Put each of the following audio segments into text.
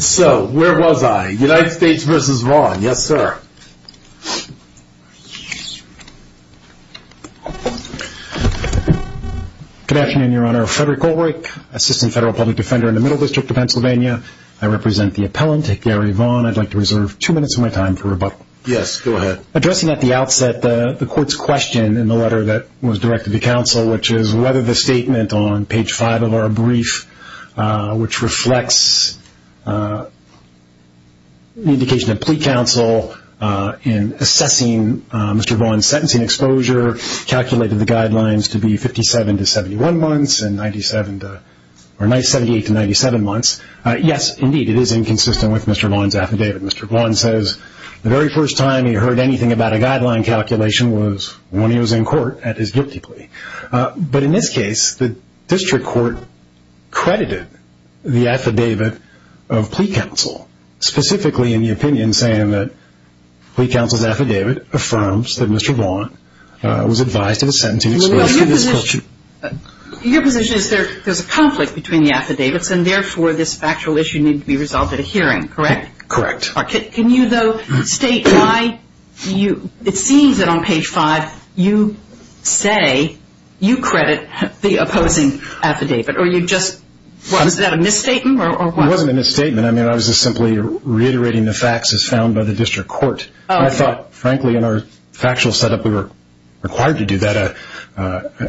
So, where was I? United States v. Vaughn. Yes, sir. Good afternoon, Your Honor. Frederick Goldreich, Assistant Federal Public Defender in the Middle District of Pennsylvania. I represent the appellant, Gary E. Vaughn. I'd like to reserve two minutes of my time for rebuttal. Yes, go ahead. Addressing at the outset the court's question in the letter that was directed to counsel, which is whether the statement on page 5 of our brief, which reflects the indication of plea counsel in assessing Mr. Vaughn's sentencing exposure, calculated the guidelines to be 57 to 71 months and 97 to, or 78 to 97 months. Yes, indeed, it is inconsistent with Mr. Vaughn's affidavit. Mr. Vaughn says the very first time he heard anything about a guideline calculation was when he was in court at his guilty plea. But in this case, the district court credited the affidavit of plea counsel, specifically in the opinion saying that plea counsel's affidavit affirms that Mr. Vaughn was advised of a sentencing exposure. Your position is there's a conflict between the affidavits and therefore this factual issue needs to be resolved at a hearing, correct? Correct. Can you, though, state why you, it seems that on page 5 you say you credit the opposing affidavit or you just, was that a misstatement or what? It wasn't a misstatement. I mean, I was just simply reiterating the facts as found by the district court. I thought, frankly, in our factual setup we were required to do that.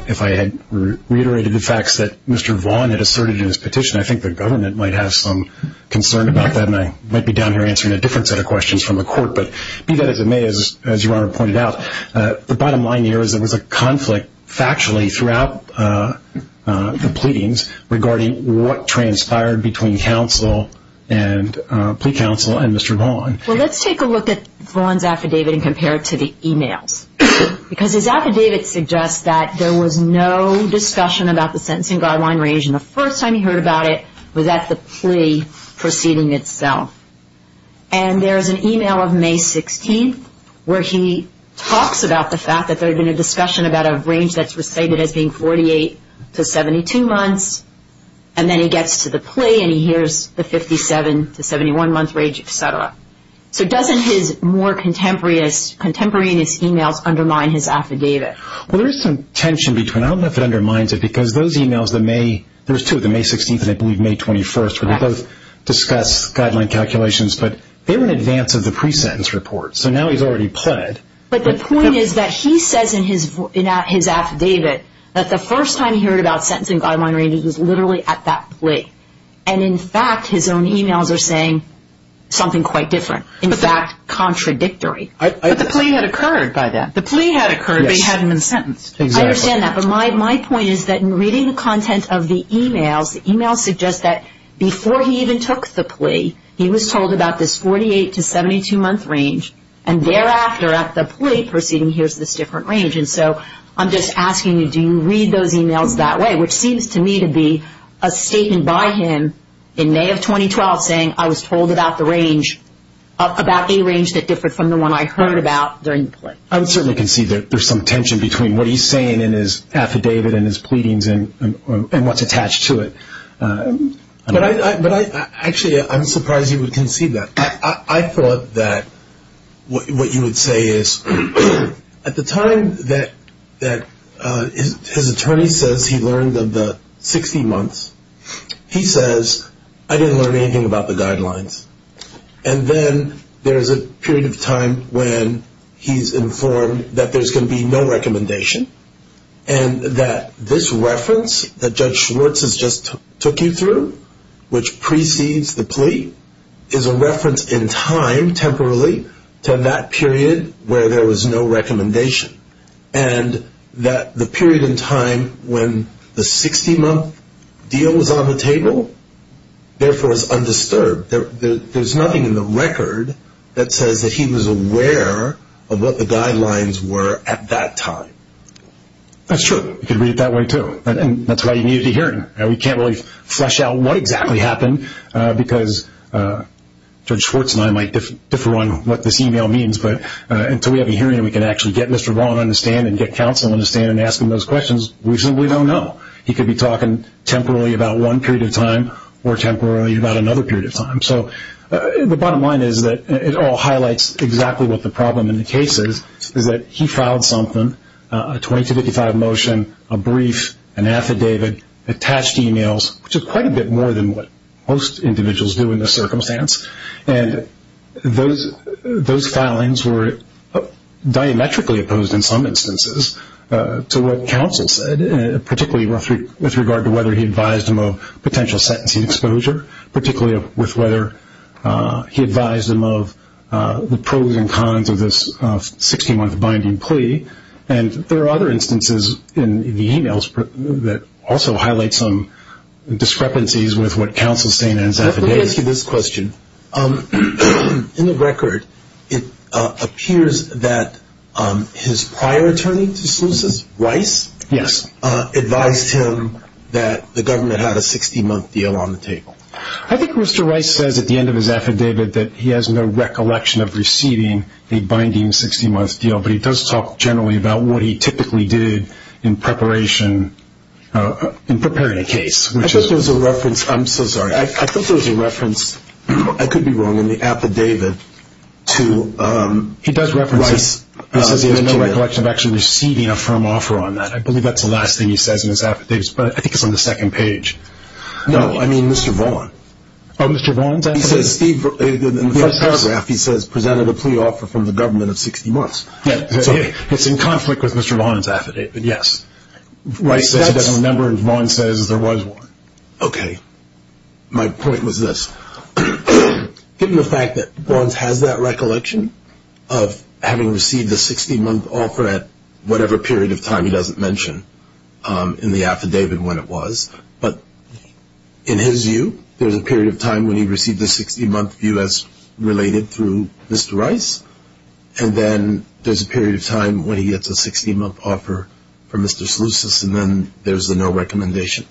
If I had reiterated the facts that Mr. Vaughn had asserted in his petition, I think the government might have some concern about that and I might be down here answering a different set of questions from the court. But be that as it may, as Your Honor pointed out, the bottom line here is there was a conflict factually throughout the pleadings regarding what transpired between counsel and plea counsel and Mr. Vaughn. Well, let's take a look at Vaughn's affidavit and compare it to the e-mails because his affidavit suggests that there was no discussion about the sentencing guideline range and the first time he heard about it was at the plea proceeding itself. And there is an e-mail of May 16th where he talks about the fact that there had been a discussion about a range that's recited as being 48 to 72 months and then he gets to the plea and he hears the 57 to 71-month range, et cetera. So doesn't his more contemporaneous e-mails undermine his affidavit? Well, there is some tension between them. I don't know if it undermines it because those e-mails, there's two of them, May 16th and I believe May 21st where they both discuss guideline calculations, but they were in advance of the pre-sentence report. So now he's already pled. But the point is that he says in his affidavit that the first time he heard about sentencing guideline ranges was literally at that plea. And, in fact, his own e-mails are saying something quite different, in fact contradictory. But the plea had occurred by then. The plea had occurred but he hadn't been sentenced. I understand that. But my point is that in reading the content of the e-mails, the e-mails suggest that before he even took the plea he was told about this 48 to 72-month range and thereafter at the plea proceeding he hears this different range. And so I'm just asking you, do you read those e-mails that way? Which seems to me to be a statement by him in May of 2012 saying I was told about the range, I would certainly concede that there's some tension between what he's saying in his affidavit and his pleadings and what's attached to it. Actually, I'm surprised you would concede that. I thought that what you would say is at the time that his attorney says he learned of the 60 months, he says I didn't learn anything about the guidelines. And then there's a period of time when he's informed that there's going to be no recommendation and that this reference that Judge Schwartz has just took you through, which precedes the plea, is a reference in time temporarily to that period where there was no recommendation. And that the period in time when the 60-month deal was on the table, therefore, is undisturbed. There's nothing in the record that says that he was aware of what the guidelines were at that time. That's true. You could read it that way, too. And that's why you needed to hear it. We can't really flesh out what exactly happened because Judge Schwartz and I might differ on what this e-mail means, but until we have a hearing and we can actually get Mr. Vaughn on the stand and get counsel on the stand and ask him those questions, we simply don't know. He could be talking temporarily about one period of time or temporarily about another period of time. So the bottom line is that it all highlights exactly what the problem in the case is, is that he filed something, a 2255 motion, a brief, an affidavit, attached e-mails, which is quite a bit more than what most individuals do in this circumstance. And those filings were diametrically opposed in some instances to what counsel said, particularly with regard to whether he advised him of potential sentencing exposure, particularly with whether he advised him of the pros and cons of this 16-month binding plea. And there are other instances in the e-mails that also highlight some discrepancies with what counsel's saying in his affidavit. Let me ask you this question. In the record, it appears that his prior attorney, Justice Rice, advised him that the government had a 16-month deal on the table. I think Mr. Rice says at the end of his affidavit that he has no recollection of receiving a binding 16-month deal, but he does talk generally about what he typically did in preparing a case. I'm so sorry. I thought there was a reference, I could be wrong, in the affidavit to Rice. He says he has no recollection of actually receiving a firm offer on that. I believe that's the last thing he says in his affidavit, but I think it's on the second page. No, I mean Mr. Vaughn. Oh, Mr. Vaughn's affidavit? In the first paragraph, he says presented a plea offer from the government of 16 months. It's in conflict with Mr. Vaughn's affidavit, but yes. Rice says he doesn't remember, and Vaughn says there was one. Okay. My point was this. Given the fact that Vaughn has that recollection of having received a 16-month offer at whatever period of time he doesn't mention in the affidavit when it was, but in his view there's a period of time when he received a 16-month view as related through Mr. Rice, and then there's a period of time when he gets a 16-month offer from Mr. Slusis, and then there's a no recommendation.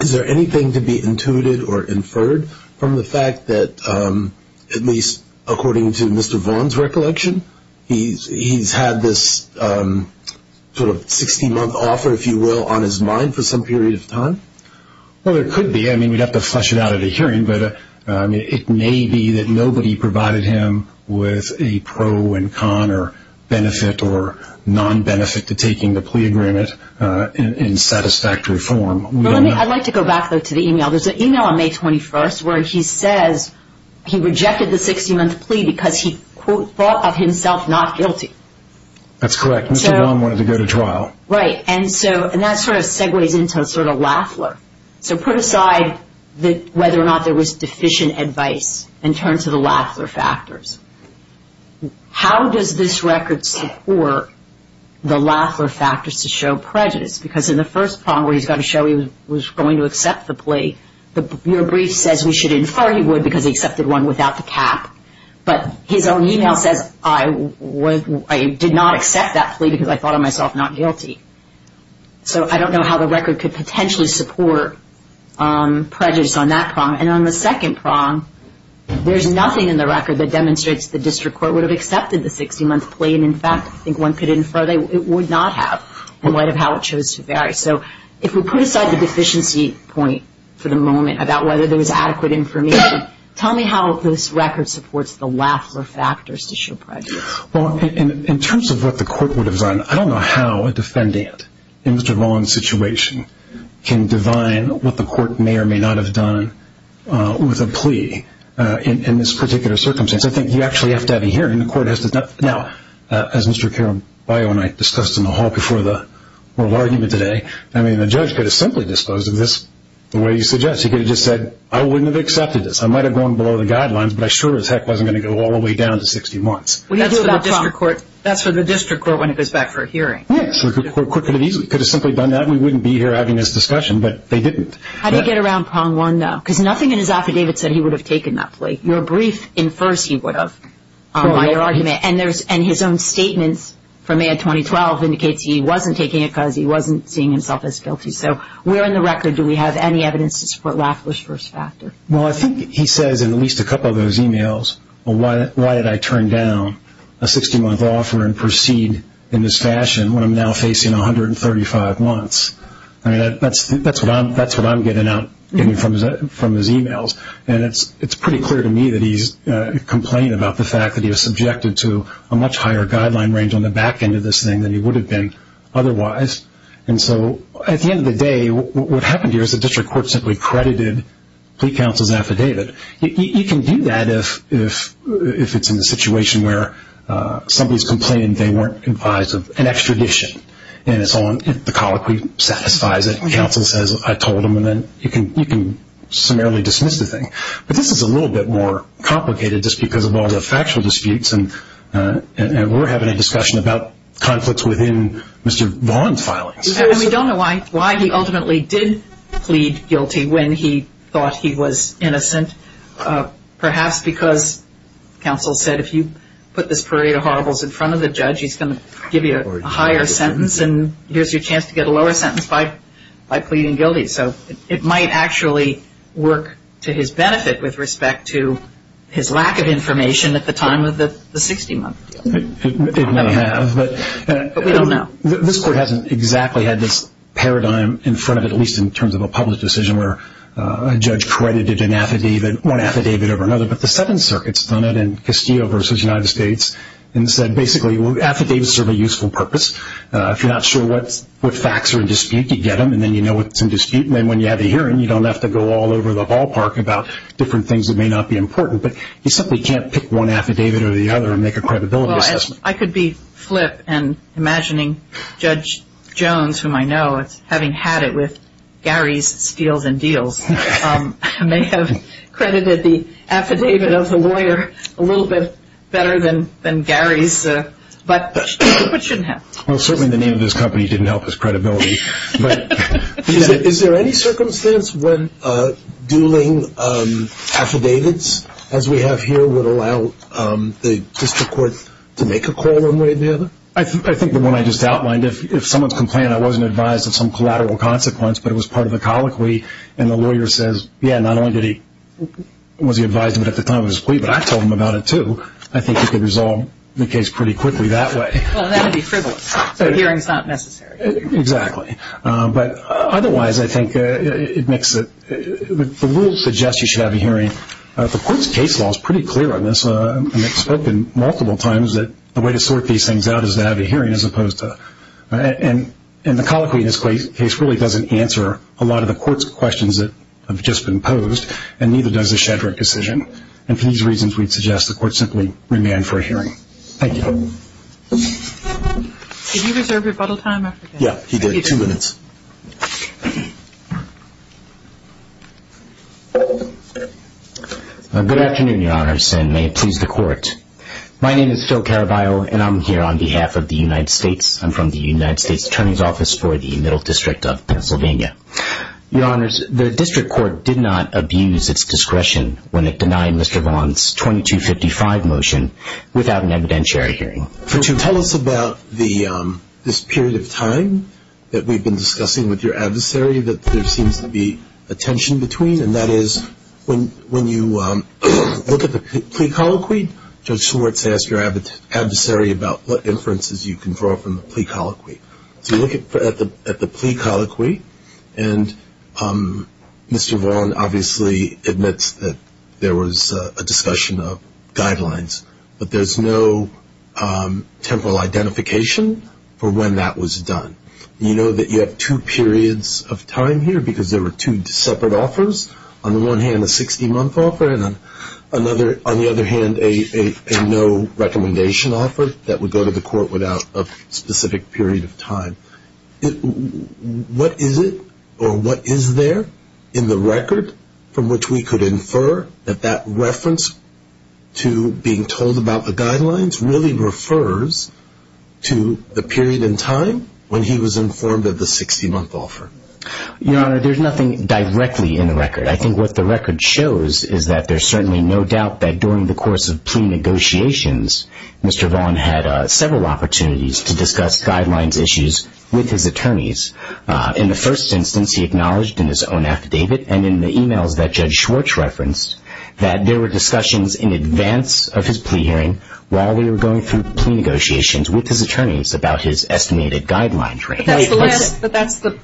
Is there anything to be intuited or inferred from the fact that, at least according to Mr. Vaughn's recollection, he's had this sort of 16-month offer, if you will, on his mind for some period of time? Well, there could be. I mean, we'd have to flesh it out at a hearing, but it may be that nobody provided him with a pro and con or benefit or non-benefit to taking the plea agreement in satisfactory form. I'd like to go back, though, to the email. There's an email on May 21st where he says he rejected the 16-month plea because he, quote, thought of himself not guilty. That's correct. Mr. Vaughn wanted to go to trial. Right. And that sort of segues into sort of Lafler. So put aside whether or not there was deficient advice and turn to the Lafler factors. How does this record support the Lafler factors to show prejudice? Because in the first prong where he's got to show he was going to accept the plea, your brief says we should infer he would because he accepted one without the cap. But his own email says, I did not accept that plea because I thought of myself not guilty. So I don't know how the record could potentially support prejudice on that prong. And on the second prong, there's nothing in the record that demonstrates the district court would have accepted the 16-month plea and, in fact, I think one could infer it would not have in light of how it chose to vary. So if we put aside the deficiency point for the moment about whether there was adequate information, tell me how this record supports the Lafler factors to show prejudice. Well, in terms of what the court would have done, I don't know how a defendant in Mr. Vaughn's situation can divine what the court may or may not have done with a plea in this particular circumstance. I think you actually have to have a hearing. Now, as Mr. Caraballo and I discussed in the hall before the oral argument today, I mean, the judge could have simply disposed of this the way he suggests. He could have just said, I wouldn't have accepted this. I might have gone below the guidelines, but I sure as heck wasn't going to go all the way down to 60 months. Yes, the court could have simply done that. We wouldn't be here having this discussion, but they didn't. How do you get around prong one, though? Because nothing in his affidavit said he would have taken that plea. Your brief infers he would have on your argument, and his own statement from May of 2012 indicates he wasn't taking it because he wasn't seeing himself as guilty. So where in the record do we have any evidence to support Lafler's first factor? Well, I think he says in at least a couple of those emails, well, why did I turn down a 60-month offer and proceed in this fashion when I'm now facing 135 months? I mean, that's what I'm getting out from his emails, and it's pretty clear to me that he's complaining about the fact that he was subjected to a much higher guideline range on the back end of this thing than he would have been otherwise. And so at the end of the day, what happened here is the district court simply credited plea counsel's affidavit. You can do that if it's in a situation where somebody's complaining they weren't advised of an extradition, and the colloquy satisfies it, and counsel says, I told them, and then you can summarily dismiss the thing. But this is a little bit more complicated just because of all the factual disputes, and we're having a discussion about conflicts within Mr. Vaughan's filings. And we don't know why he ultimately did plead guilty when he thought he was innocent, perhaps because counsel said if you put this parade of horribles in front of the judge, he's going to give you a higher sentence, and here's your chance to get a lower sentence by pleading guilty. So it might actually work to his benefit with respect to his lack of information at the time of the 60-month deal. It may have. But we don't know. This court hasn't exactly had this paradigm in front of it, at least in terms of a public decision, where a judge credited one affidavit over another, but the Seventh Circuit's done it in Castillo v. United States and said basically affidavits serve a useful purpose. If you're not sure what facts are in dispute, you get them, and then you know what's in dispute, and then when you have a hearing, you don't have to go all over the ballpark about different things that may not be important, but you simply can't pick one affidavit or the other and make a credibility assessment. I could be flip and imagining Judge Jones, whom I know, having had it with Gary's steals and deals, may have credited the affidavit of the lawyer a little bit better than Gary's, but shouldn't have. Well, certainly the name of this company didn't help his credibility. Is there any circumstance when dueling affidavits, as we have here, would allow the district court to make a call one way or the other? I think the one I just outlined, if someone's complaining, I wasn't advised of some collateral consequence, but it was part of the colloquy, and the lawyer says, yeah, not only was he advised of it at the time of his plea, but I told him about it, too, I think he could resolve the case pretty quickly that way. Well, that would be frivolous, so a hearing's not necessary. Exactly. But otherwise, I think it makes it – the rule suggests you should have a hearing. The court's case law is pretty clear on this, and it's spoken multiple times that the way to sort these things out is to have a hearing as opposed to – and the colloquy in this case really doesn't answer a lot of the court's questions that have just been posed, and neither does the Shedrick decision. And for these reasons, we'd suggest the court simply remand for a hearing. Thank you. Did you reserve rebuttal time? Yeah, he did. Two minutes. Good afternoon, Your Honors, and may it please the court. My name is Phil Caraballo, and I'm here on behalf of the United States. I'm from the United States Attorney's Office for the Middle District of Pennsylvania. Your Honors, the district court did not abuse its discretion when it denied Mr. Vaughn's 2255 motion without an evidentiary hearing. Tell us about this period of time that we've been discussing with your adversary that there seems to be a tension between, and that is when you look at the plea colloquy, Judge Schwartz asked your adversary about what inferences you can draw from the plea colloquy. So you look at the plea colloquy, and Mr. Vaughn obviously admits that there was a discussion of guidelines, but there's no temporal identification for when that was done. You know that you have two periods of time here because there were two separate offers. On the one hand, a 60-month offer, and on the other hand, a no recommendation offer that would go to the court without a specific period of time. What is it or what is there in the record from which we could infer that that reference to being told about the guidelines really refers to the period in time when he was informed of the 60-month offer? Your Honor, there's nothing directly in the record. I think what the record shows is that there's certainly no doubt that during the course of plea negotiations, Mr. Vaughn had several opportunities to discuss guidelines issues with his attorneys. In the first instance, he acknowledged in his own affidavit and in the e-mails that Judge Schwartz referenced that there were discussions in advance of his plea hearing while we were going through plea negotiations with his attorneys about his estimated guidelines. But that's the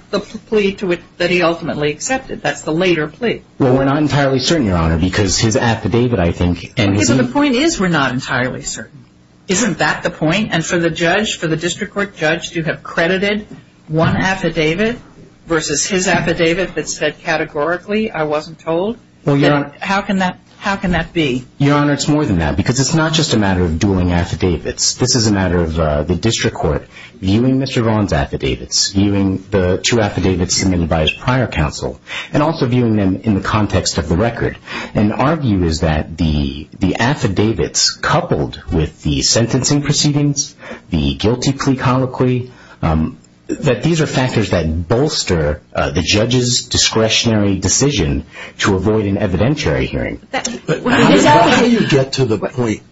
plea that he ultimately accepted. That's the later plea. Well, we're not entirely certain, Your Honor, because his affidavit, I think, and his e-mails. The point is we're not entirely certain. Isn't that the point? And for the judge, for the district court judge to have credited one affidavit versus his affidavit that said categorically, I wasn't told, how can that be? Your Honor, it's more than that because it's not just a matter of dueling affidavits. This is a matter of the district court viewing Mr. Vaughn's affidavits, viewing the two affidavits submitted by his prior counsel, and also viewing them in the context of the record. And our view is that the affidavits coupled with the sentencing proceedings, the guilty plea colloquy, that these are factors that bolster the judge's discretionary decision to avoid an evidentiary hearing. How do you get to the point?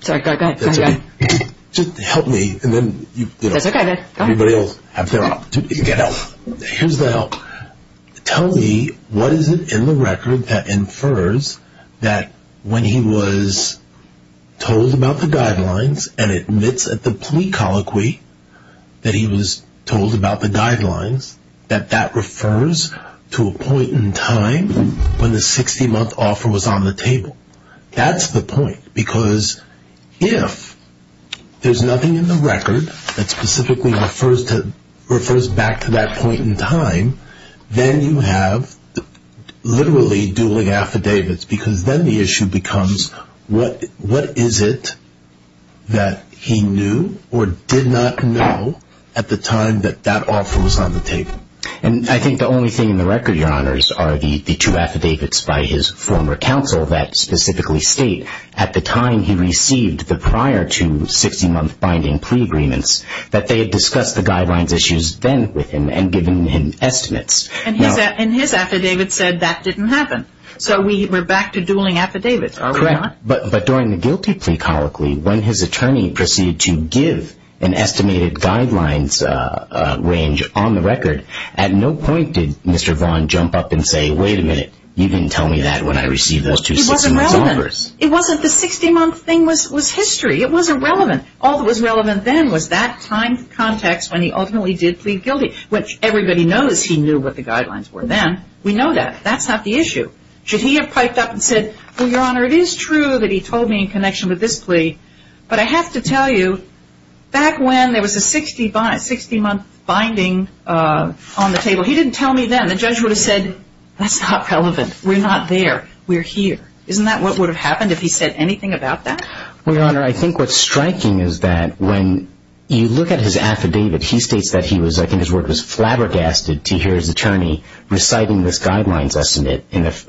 Sorry, go ahead. Just help me, and then, you know, everybody else has their opportunity to get help. Here's the help. Tell me what is it in the record that infers that when he was told about the guidelines and admits at the plea colloquy that he was told about the guidelines, that that refers to a point in time when the 60-month offer was on the table? That's the point because if there's nothing in the record that specifically refers back to that point in time, then you have literally dueling affidavits because then the issue becomes what is it that he knew or did not know at the time that that offer was on the table? And I think the only thing in the record, Your Honors, are the two affidavits by his former counsel that specifically state at the time he received the prior to 60-month binding plea agreements that they had discussed the guidelines issues then with him and given him estimates. And his affidavit said that didn't happen. So we're back to dueling affidavits, are we not? Correct. But during the guilty plea colloquy, when his attorney proceeded to give an estimated guidelines range on the record, at no point did Mr. Vaughn jump up and say, wait a minute, you didn't tell me that when I received those two 60-month offers. It wasn't relevant. It wasn't the 60-month thing was history. It wasn't relevant. All that was relevant then was that time context when he ultimately did plead guilty, which everybody knows he knew what the guidelines were then. We know that. That's not the issue. Should he have piped up and said, well, Your Honor, it is true that he told me in connection with this plea, but I have to tell you, back when there was a 60-month binding on the table, he didn't tell me then. The judge would have said, that's not relevant. We're not there. We're here. Isn't that what would have happened if he said anything about that? Well, Your Honor, I think what's striking is that when you look at his affidavit, he states that he was, I think his word was flabbergasted to hear his attorney reciting this guidelines estimate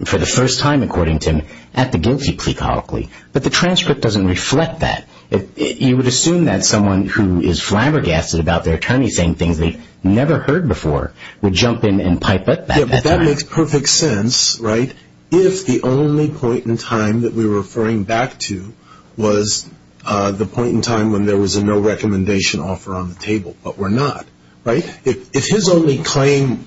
for the first time, according to him, at the guilty plea colloquy. But the transcript doesn't reflect that. You would assume that someone who is flabbergasted about their attorney saying things they've never heard before would jump in and pipe up. Yeah, but that makes perfect sense, right, if the only point in time that we were referring back to was the point in time when there was a no-recommendation offer on the table, but we're not, right? If his only claim,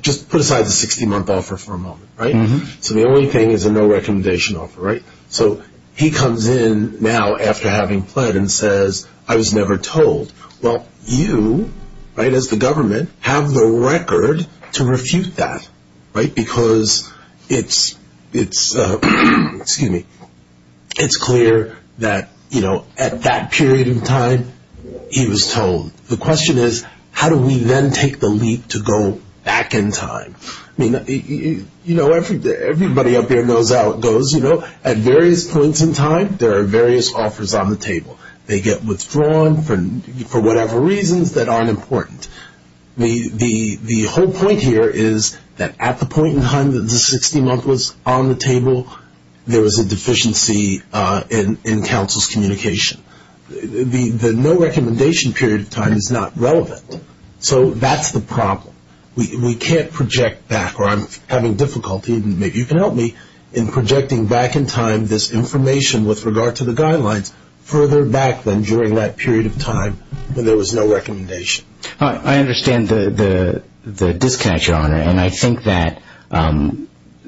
just put aside the 60-month offer for a moment, right? So the only thing is a no-recommendation offer, right? So he comes in now after having pled and says, I was never told. Well, you, right, as the government, have the record to refute that, right, because it's clear that, you know, at that period in time, he was told. The question is, how do we then take the leap to go back in time? I mean, you know, everybody up there knows how it goes, you know. At various points in time, there are various offers on the table. They get withdrawn for whatever reasons that aren't important. The whole point here is that at the point in time that the 60-month was on the table, there was a deficiency in counsel's communication. The no-recommendation period of time is not relevant. So that's the problem. We can't project back, or I'm having difficulty, and maybe you can help me in projecting back in time this information with regard to the guidelines further back than during that period of time when there was no recommendation. I understand the disconnect, Your Honor, and I think that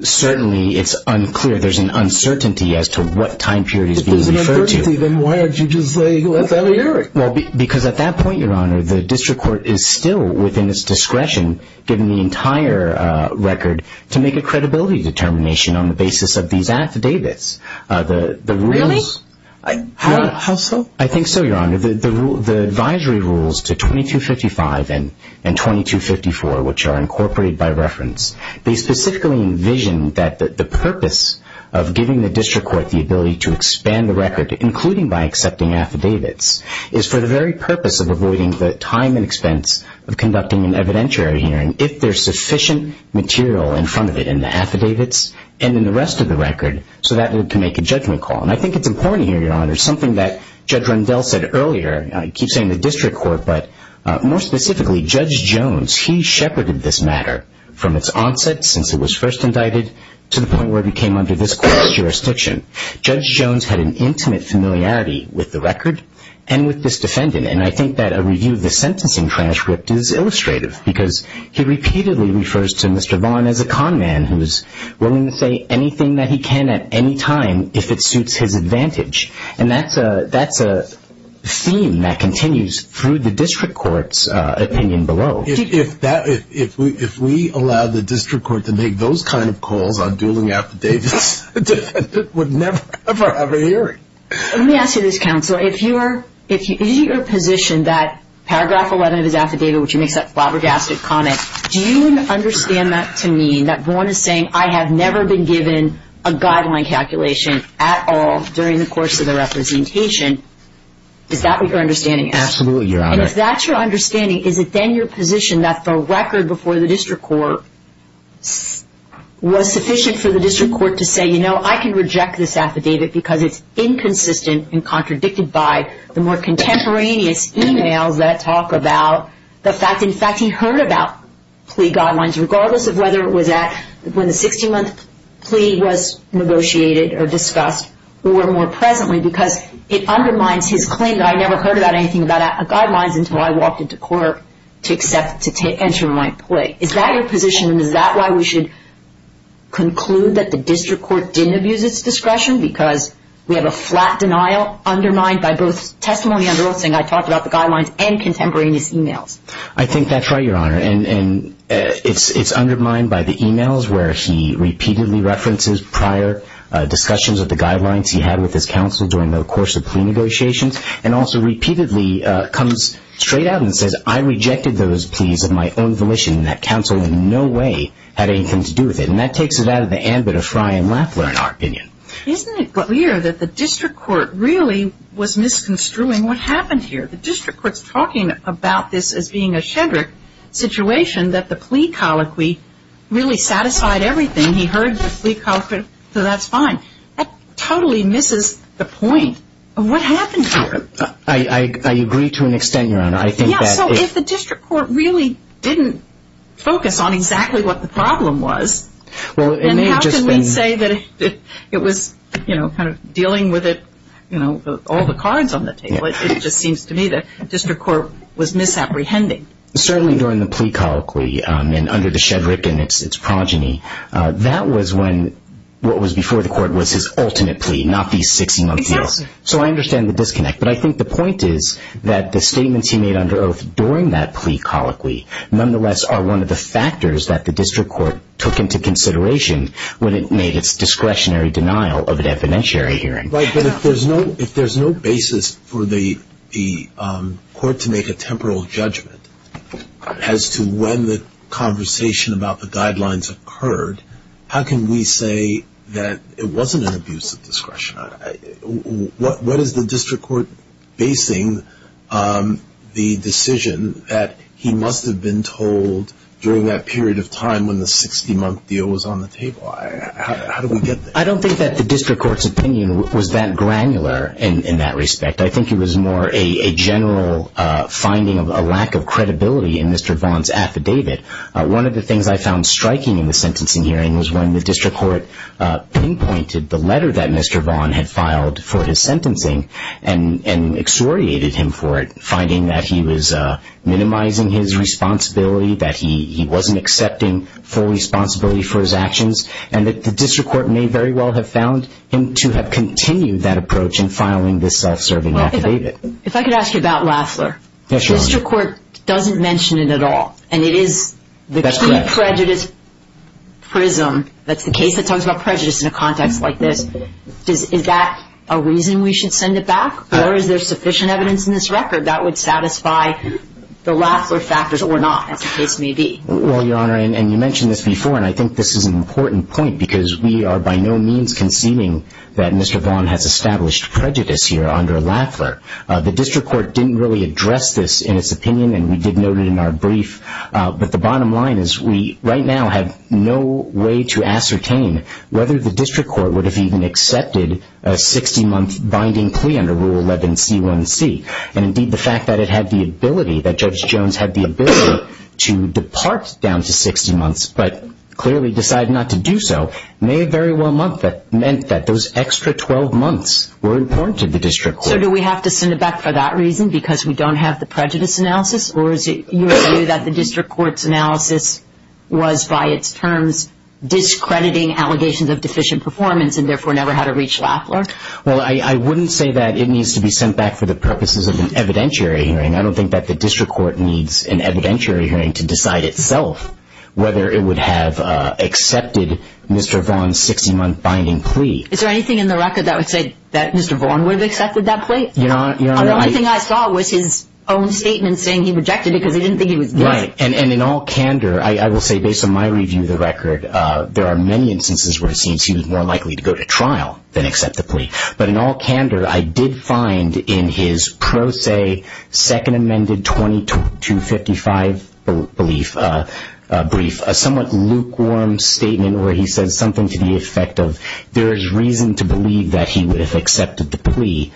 certainly it's unclear. There's an uncertainty as to what time period he's being referred to. If there's an uncertainty, then why don't you just say, let's have a hearing? Well, because at that point, Your Honor, the district court is still within its discretion, given the entire record, to make a credibility determination on the basis of these affidavits. Really? How so? I think so, Your Honor. The advisory rules to 2255 and 2254, which are incorporated by reference, they specifically envision that the purpose of giving the district court the ability to expand the record, including by accepting affidavits, is for the very purpose of avoiding the time and expense of conducting an evidentiary hearing if there's sufficient material in front of it in the affidavits and in the rest of the record so that it can make a judgment call. And I think it's important here, Your Honor, something that Judge Rundell said earlier, he keeps saying the district court, but more specifically, Judge Jones. He shepherded this matter from its onset since it was first indicted to the point where it became under this court's jurisdiction. Judge Jones had an intimate familiarity with the record and with this defendant, and I think that a review of the sentencing transcript is illustrative because he repeatedly refers to Mr. Vaughn as a con man who is willing to say anything that he can at any time if it suits his advantage. And that's a theme that continues through the district court's opinion below. If we allow the district court to make those kind of calls on dueling affidavits, the defendant would never ever have a hearing. Let me ask you this, Counselor. If you're in your position that Paragraph 11 of his affidavit, which he makes that flabbergasted comment, do you understand that to mean that Vaughn is saying, I have never been given a guideline calculation at all during the course of the representation? Is that what your understanding is? Absolutely, Your Honor. And if that's your understanding, is it then your position that the record before the district court was sufficient for the district court to say, you know, I can reject this affidavit because it's inconsistent and contradicted by the more contemporaneous emails that talk about the fact, in fact, he heard about plea guidelines, regardless of whether it was at when the 16-month plea was negotiated or discussed or more presently because it undermines his claim that I never heard about anything about guidelines until I walked into court to enter my plea. Is that your position, and is that why we should conclude that the district court didn't abuse its discretion because we have a flat denial undermined by both testimony under oath saying I talked about the guidelines and contemporaneous emails? I think that's right, Your Honor, and it's undermined by the emails where he repeatedly references prior discussions of the guidelines he had with his counsel during the course of plea negotiations and also repeatedly comes straight out and says, I rejected those pleas of my own volition and that counsel in no way had anything to do with it. And that takes it out of the ambit of Frye and Lapler, in our opinion. Isn't it clear that the district court really was misconstruing what happened here? The district court's talking about this as being a Shedrick situation that the plea colloquy really satisfied everything. He heard the plea colloquy, so that's fine. That totally misses the point of what happened here. I agree to an extent, Your Honor. Yeah, so if the district court really didn't focus on exactly what the problem was, then how can we say that it was, you know, kind of dealing with it, you know, all the cards on the table? It just seems to me that district court was misapprehending. Certainly during the plea colloquy and under the Shedrick and its progeny, that was when what was before the court was his ultimate plea, not these 60-month deals. So I understand the disconnect, but I think the point is that the statements he made under oath during that plea colloquy nonetheless are one of the factors that the district court took into consideration when it made its discretionary denial of an evidentiary hearing. Right, but if there's no basis for the court to make a temporal judgment as to when the conversation about the guidelines occurred, how can we say that it wasn't an abuse of discretion? What is the district court basing the decision that he must have been told during that period of time when the 60-month deal was on the table? How do we get there? I don't think that the district court's opinion was that granular in that respect. I think it was more a general finding of a lack of credibility in Mr. Vaughn's affidavit. One of the things I found striking in the sentencing hearing was when the district court pinpointed the letter that Mr. Vaughn had filed for his sentencing and exhoriated him for it, finding that he was minimizing his responsibility, that he wasn't accepting full responsibility for his actions, and that the district court may very well have found him to have continued that approach in filing this self-serving affidavit. If I could ask you about Lafler, the district court doesn't mention it at all, and it is the key prejudice prism. That's the case that talks about prejudice in a context like this. Is that a reason we should send it back, or is there sufficient evidence in this record that would satisfy the Lafler factors or not, as the case may be? Well, Your Honor, and you mentioned this before, and I think this is an important point because we are by no means conceding that Mr. Vaughn has established prejudice here under Lafler. The district court didn't really address this in its opinion, and we did note it in our brief, but the bottom line is we right now have no way to ascertain whether the district court would have even accepted a 60-month binding plea under Rule 11C1C, and indeed the fact that it had the ability, that Judge Jones had the ability to depart down to 60 months but clearly decided not to do so may very well mean that those extra 12 months were important to the district court. So do we have to send it back for that reason, because we don't have the prejudice analysis, or is it your view that the district court's analysis was, by its terms, discrediting allegations of deficient performance and therefore never had it reach Lafler? Well, I wouldn't say that it needs to be sent back for the purposes of an evidentiary hearing. I don't think that the district court needs an evidentiary hearing to decide itself whether it would have accepted Mr. Vaughn's 60-month binding plea. Is there anything in the record that would say that Mr. Vaughn would have accepted that plea? The only thing I saw was his own statement saying he rejected it because he didn't think he was doing it. Right, and in all candor, I will say, based on my review of the record, there are many instances where it seems he was more likely to go to trial than accept the plea. But in all candor, I did find in his pro se Second Amendment 2255 brief a somewhat lukewarm statement where he says something to the effect of there is reason to believe that he would have accepted the plea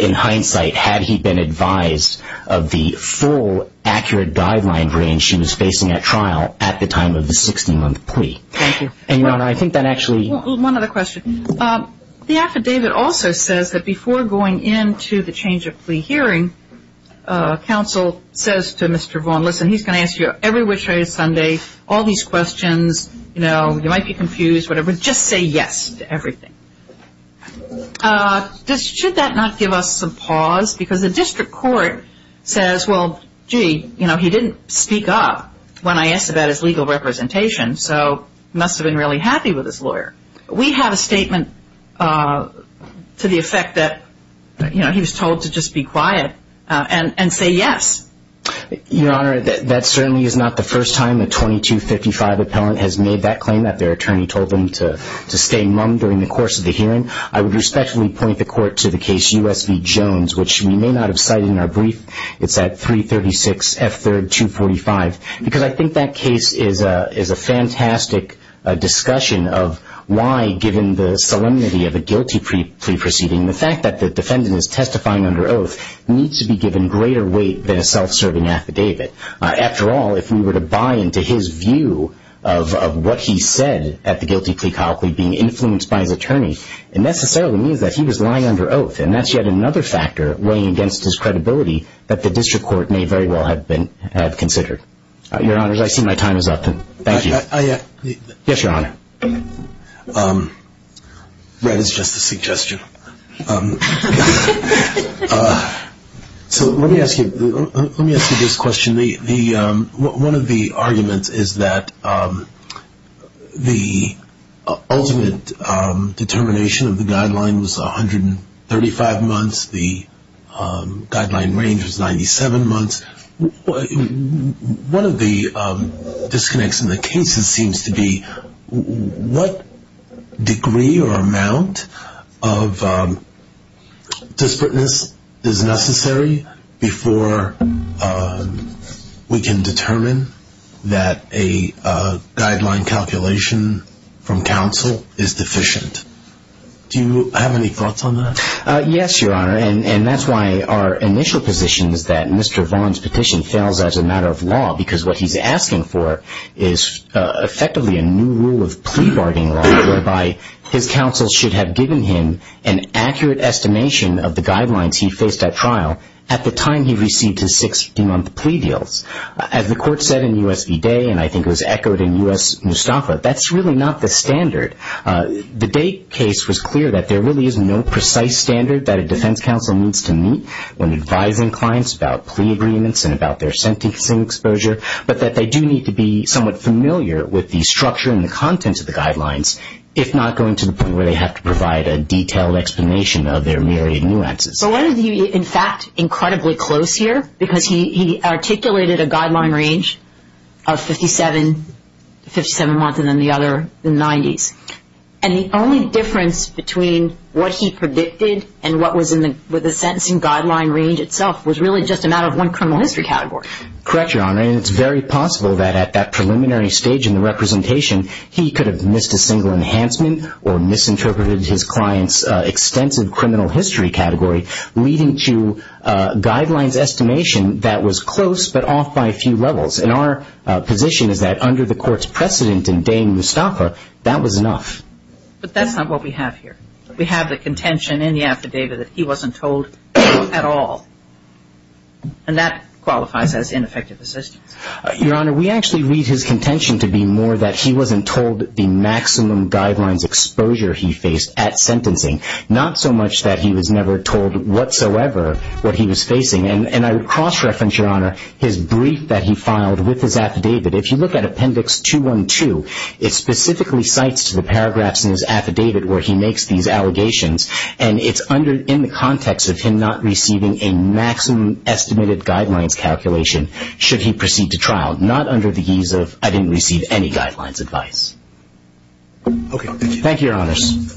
in hindsight had he been advised of the full, accurate guideline range he was facing at trial at the time of the 60-month plea. Thank you. And, Your Honor, I think that actually One other question. The affidavit also says that before going into the change of plea hearing, counsel says to Mr. Vaughn, listen, he's going to ask you every which way Sunday, all these questions, you know, you might be confused, whatever, just say yes to everything. Should that not give us some pause? Because the district court says, well, gee, you know, he didn't speak up when I asked about his legal representation, so he must have been really happy with his lawyer. We have a statement to the effect that, you know, he was told to just be quiet and say yes. Your Honor, that certainly is not the first time a 2255 appellant has made that claim, that their attorney told them to stay mum during the course of the hearing. I would respectfully point the court to the case U.S. v. Jones, which we may not have cited in our brief. It's at 336 F. 3rd, 245. Because I think that case is a fantastic discussion of why, given the solemnity of a guilty plea proceeding, the fact that the defendant is testifying under oath needs to be given greater weight than a self-serving affidavit. After all, if we were to buy into his view of what he said at the guilty plea colloquy being influenced by his attorney, it necessarily means that he was lying under oath, and that's yet another factor weighing against his credibility that the district court may very well have considered. Your Honors, I see my time is up. Thank you. Yes, Your Honor. Red is just a suggestion. So let me ask you this question. One of the arguments is that the ultimate determination of the guideline was 135 months. The guideline range was 97 months. One of the disconnects in the case seems to be what degree or amount of dispertance is necessary before we can determine that a guideline calculation from counsel is deficient. Do you have any thoughts on that? Yes, Your Honor. And that's why our initial position is that Mr. Vaughn's petition fails as a matter of law because what he's asking for is effectively a new rule of plea-guarding law, whereby his counsel should have given him an accurate estimation of the guidelines he faced at trial at the time he received his 60-month plea deals. As the court said in U.S. v. Day, and I think it was echoed in U.S. Mustafa, that's really not the standard. The Day case was clear that there really is no precise standard that a defense counsel needs to meet when advising clients about plea agreements and about their sentencing exposure, but that they do need to be somewhat familiar with the structure and the contents of the guidelines, if not going to the point where they have to provide a detailed explanation of their myriad nuances. So why is he, in fact, incredibly close here? Because he articulated a guideline range of 57 months and then the other, the 90s. And the only difference between what he predicted and what was in the sentencing guideline range itself was really just a matter of one criminal history category. Correct, Your Honor. And it's very possible that at that preliminary stage in the representation, he could have missed a single enhancement or misinterpreted his client's extensive criminal history category, leading to guidelines estimation that was close but off by a few levels. And our position is that under the court's precedent in Day and Mustafa, that was enough. But that's not what we have here. We have the contention in the affidavit that he wasn't told at all. And that qualifies as ineffective assistance. Your Honor, we actually read his contention to be more that he wasn't told the maximum guidelines exposure he faced at sentencing, not so much that he was never told whatsoever what he was facing. And I would cross-reference, Your Honor, his brief that he filed with his affidavit. If you look at Appendix 212, it specifically cites the paragraphs in his affidavit where he makes these allegations. And it's in the context of him not receiving a maximum estimated guidelines calculation should he proceed to trial, not under the ease of I didn't receive any guidelines advice. Thank you, Your Honors.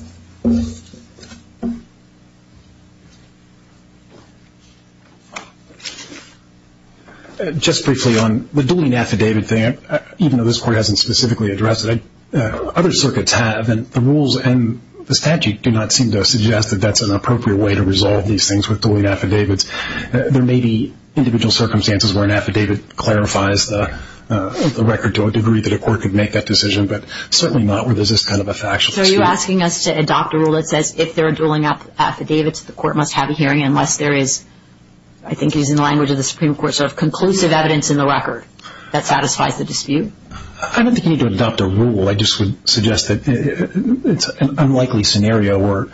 Just briefly on the dueling affidavit thing, even though this Court hasn't specifically addressed it, other circuits have, and the rules and the statute do not seem to suggest that that's an appropriate way to resolve these things with dueling affidavits. There may be individual circumstances where an affidavit clarifies the record to a degree that a court could make that decision, but certainly not where there's this kind of a factual dispute. So are you asking us to adopt a rule that says if there are dueling affidavits, the court must have a hearing unless there is, I think it is in the language of the Supreme Court, sort of conclusive evidence in the record that satisfies the dispute? I don't think you need to adopt a rule. I just would suggest that it's an unlikely scenario where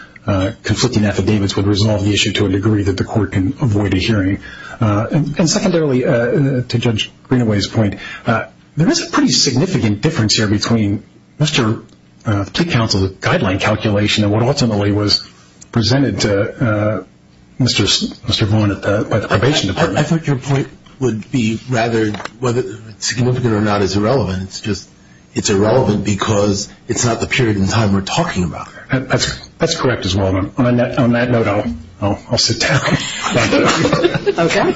conflicting affidavits would resolve the issue to a degree that the court can avoid a hearing. And secondarily, to Judge Greenaway's point, there is a pretty significant difference here between Mr. The plea counsel's guideline calculation and what ultimately was presented to Mr. Vaughn at the probation department. I thought your point would be rather whether it's significant or not is irrelevant. It's just it's irrelevant because it's not the period in time we're talking about here. That's correct as well. On that note, I'll sit down. Okay.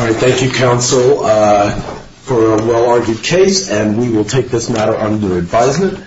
All right. Thank you, counsel, for a well-argued case. And we will take this matter under advisement.